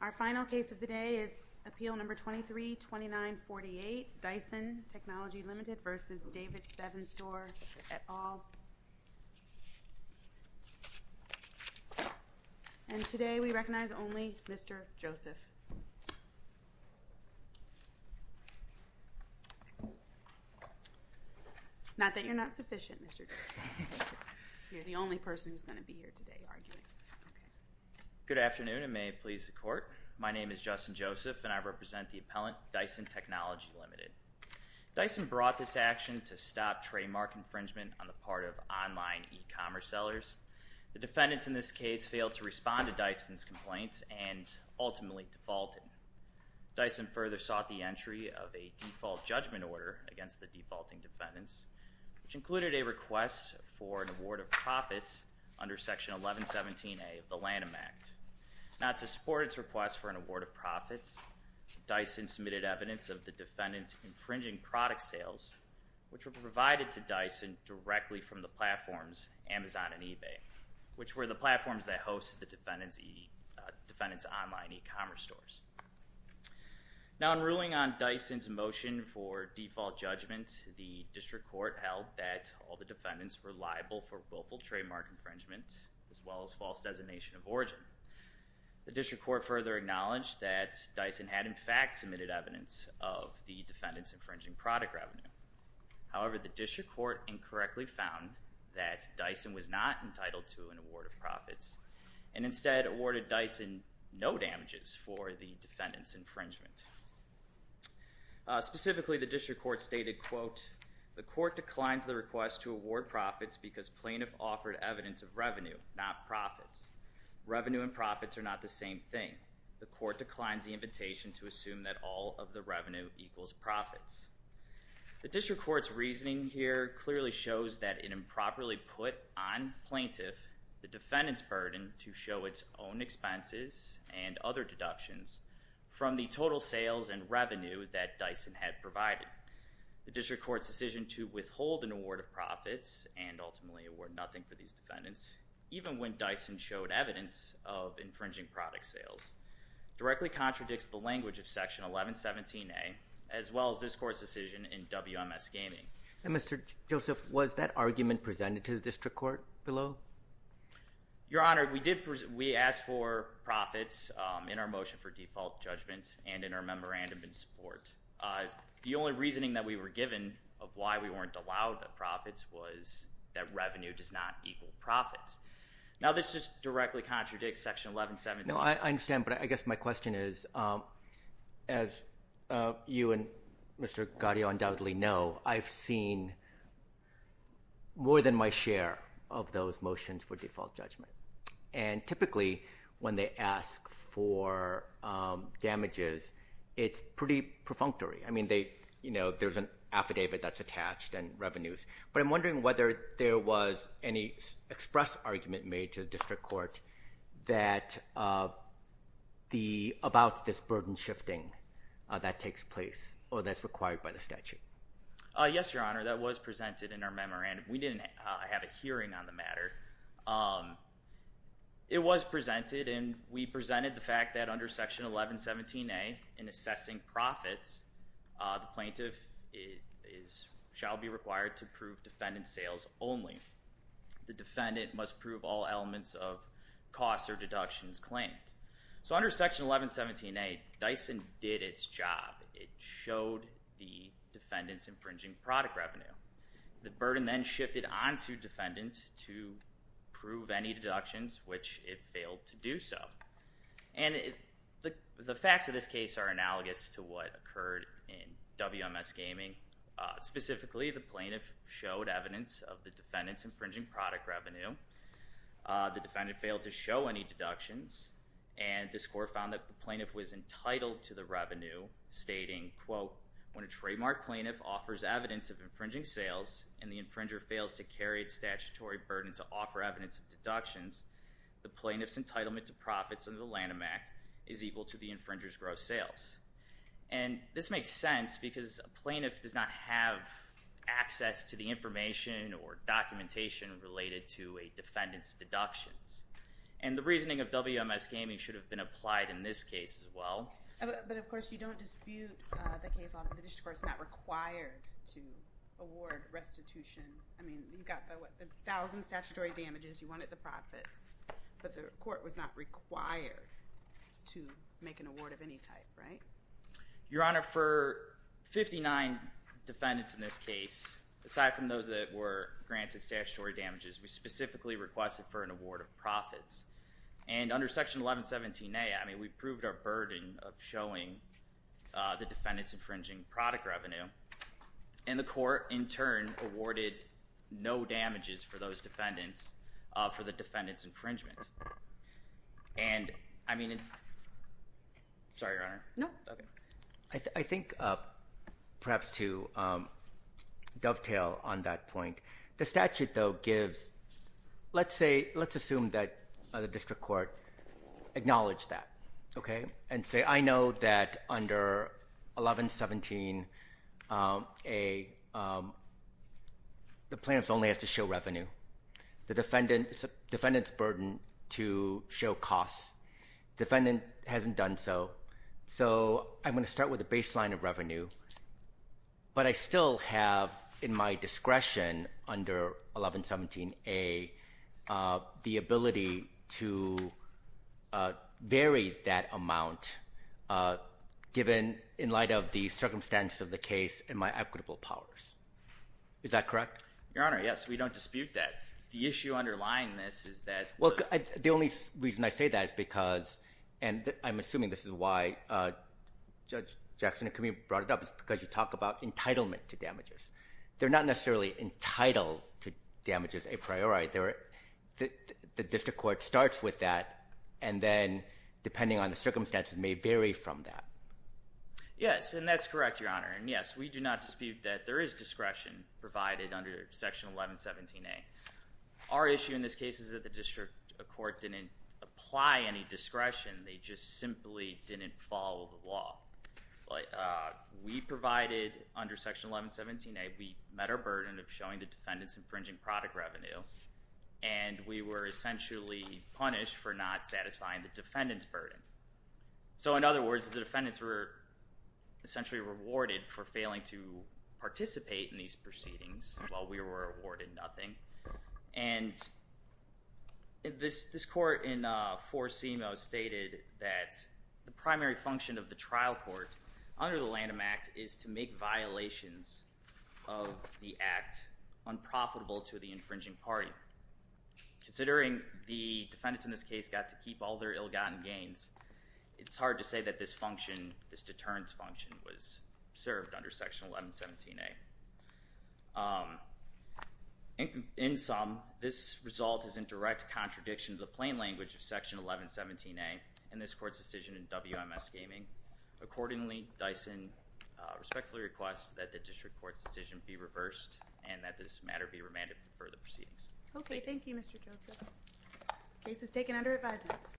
Our final case of the day is Appeal No. 23-2948, Dyson Technology Limited v. David 7 Store et al. And today we recognize only Mr. Joseph. Not that you're not sufficient, Mr. Joseph. You're the only person who's going to be here today arguing. Good afternoon, and may it please the Court. My name is Justin Joseph, and I represent the appellant, Dyson Technology Limited. Dyson brought this action to stop trademark infringement on the part of online e-commerce sellers. The defendants in this case failed to respond to Dyson's complaints and ultimately defaulted. Dyson further sought the entry of a default judgment order against the defaulting defendants, which included a request for an award of profits under Section 1117A of the Lanham Act. Now, to support its request for an award of profits, Dyson submitted evidence of the defendants' infringing product sales, which were provided to Dyson directly from the platforms Amazon and eBay, which were the platforms that hosted the defendants' online e-commerce stores. Now, in ruling on Dyson's motion for default judgment, the District Court held that all the defendants were liable for willful trademark infringement, as well as false designation of origin. The District Court further acknowledged that Dyson had in fact submitted evidence of the defendants' infringing product revenue. However, the District Court incorrectly found that Dyson was not entitled to an award of profits and instead awarded Dyson no damages for the defendants' infringement. Specifically, the District Court stated, quote, the Court declines the request to award profits because plaintiff offered evidence of revenue, not profits. Revenue and profits are not the same thing. The Court declines the invitation to assume that all of the revenue equals profits. The District Court's reasoning here clearly shows that in improperly put on plaintiff, the defendants' burden to show its own expenses and other deductions from the total sales and revenue that Dyson had provided. The District Court's decision to withhold an award of profits and ultimately award nothing for these defendants, even when Dyson showed evidence of infringing product sales, directly contradicts the language of Section 1117A, as well as this Court's decision in WMS Gaming. Mr. Joseph, was that argument presented to the District Court below? Your Honor, we asked for profits in our motion for default judgment and in our memorandum in support. The only reasoning that we were given of why we weren't allowed profits was that revenue does not equal profits. Now, this just directly contradicts Section 1117A. No, I understand, but I guess my question is, as you and Mr. Gaudio undoubtedly know, I've seen more than my share of those motions for default judgment, and typically when they ask for damages, it's pretty perfunctory. I mean, there's an affidavit that's attached and revenues, but I'm wondering whether there was any express argument made to the District Court about this burden shifting that takes place or that's required by the statute. Yes, Your Honor, that was presented in our memorandum. We didn't have a hearing on the matter. It was presented, and we presented the fact that under Section 1117A, in assessing profits, the plaintiff shall be required to prove defendant sales only. The defendant must prove all elements of costs or deductions claimed. So under Section 1117A, Dyson did its job. It showed the defendant's infringing product revenue. The burden then shifted onto defendant to prove any deductions, which it failed to do so. And the facts of this case are analogous to what occurred in WMS Gaming. Specifically, the plaintiff showed evidence of the defendant's infringing product revenue. The defendant failed to show any deductions, and the score found that the plaintiff was entitled to the revenue, stating, quote, when a trademark plaintiff offers evidence of infringing sales and the infringer fails to carry its statutory burden to offer evidence of deductions, the plaintiff's entitlement to profits under the Lanham Act is equal to the infringer's gross sales. And this makes sense because a plaintiff does not have access to the information or documentation related to a defendant's deductions. And the reasoning of WMS Gaming should have been applied in this case as well. But, of course, you don't dispute the case law. The district court's not required to award restitution. I mean, you've got the 1,000 statutory damages. You wanted the profits. But the court was not required to make an award of any type, right? Your Honor, for 59 defendants in this case, aside from those that were granted statutory damages, we specifically requested for an award of profits. And under Section 1117A, I mean, we proved our burden of showing the defendant's infringing product revenue. And the court, in turn, awarded no damages for those defendants for the defendant's infringement. And, I mean, sorry, Your Honor. No. I think perhaps to dovetail on that point, the statute, though, gives, let's say, let's assume that the district court acknowledged that, okay? And say, I know that under 1117A, the plaintiff only has to show revenue. The defendant's burden to show costs. Defendant hasn't done so. So I'm going to start with the baseline of revenue. But I still have, in my discretion under 1117A, the ability to vary that amount, given in light of the circumstance of the case and my equitable powers. Is that correct? Your Honor, yes. We don't dispute that. The issue underlying this is that. Well, the only reason I say that is because, and I'm assuming this is why Judge Jackson and Camille brought it up, is because you talk about entitlement to damages. They're not necessarily entitled to damages a priori. The district court starts with that and then, depending on the circumstances, may vary from that. Yes, and that's correct, Your Honor. And, yes, we do not dispute that there is discretion provided under Section 1117A. Our issue in this case is that the district court didn't apply any discretion. They just simply didn't follow the law. We provided, under Section 1117A, we met our burden of showing the defendant's infringing product revenue. And we were essentially punished for not satisfying the defendant's burden. So, in other words, the defendants were essentially rewarded for failing to participate in these proceedings, while we were awarded nothing. And this court in 4-CMO stated that the primary function of the trial court under the Lanham Act is to make violations of the act unprofitable to the infringing party. Considering the defendants in this case got to keep all their ill-gotten gains, it's hard to say that this deterrence function was served under Section 1117A. In sum, this result is in direct contradiction to the plain language of Section 1117A in this court's decision in WMS Gaming. Accordingly, Dyson respectfully requests that the district court's decision be reversed and that this matter be remanded for further proceedings. Okay, thank you Mr. Joseph. Case is taken under advisement.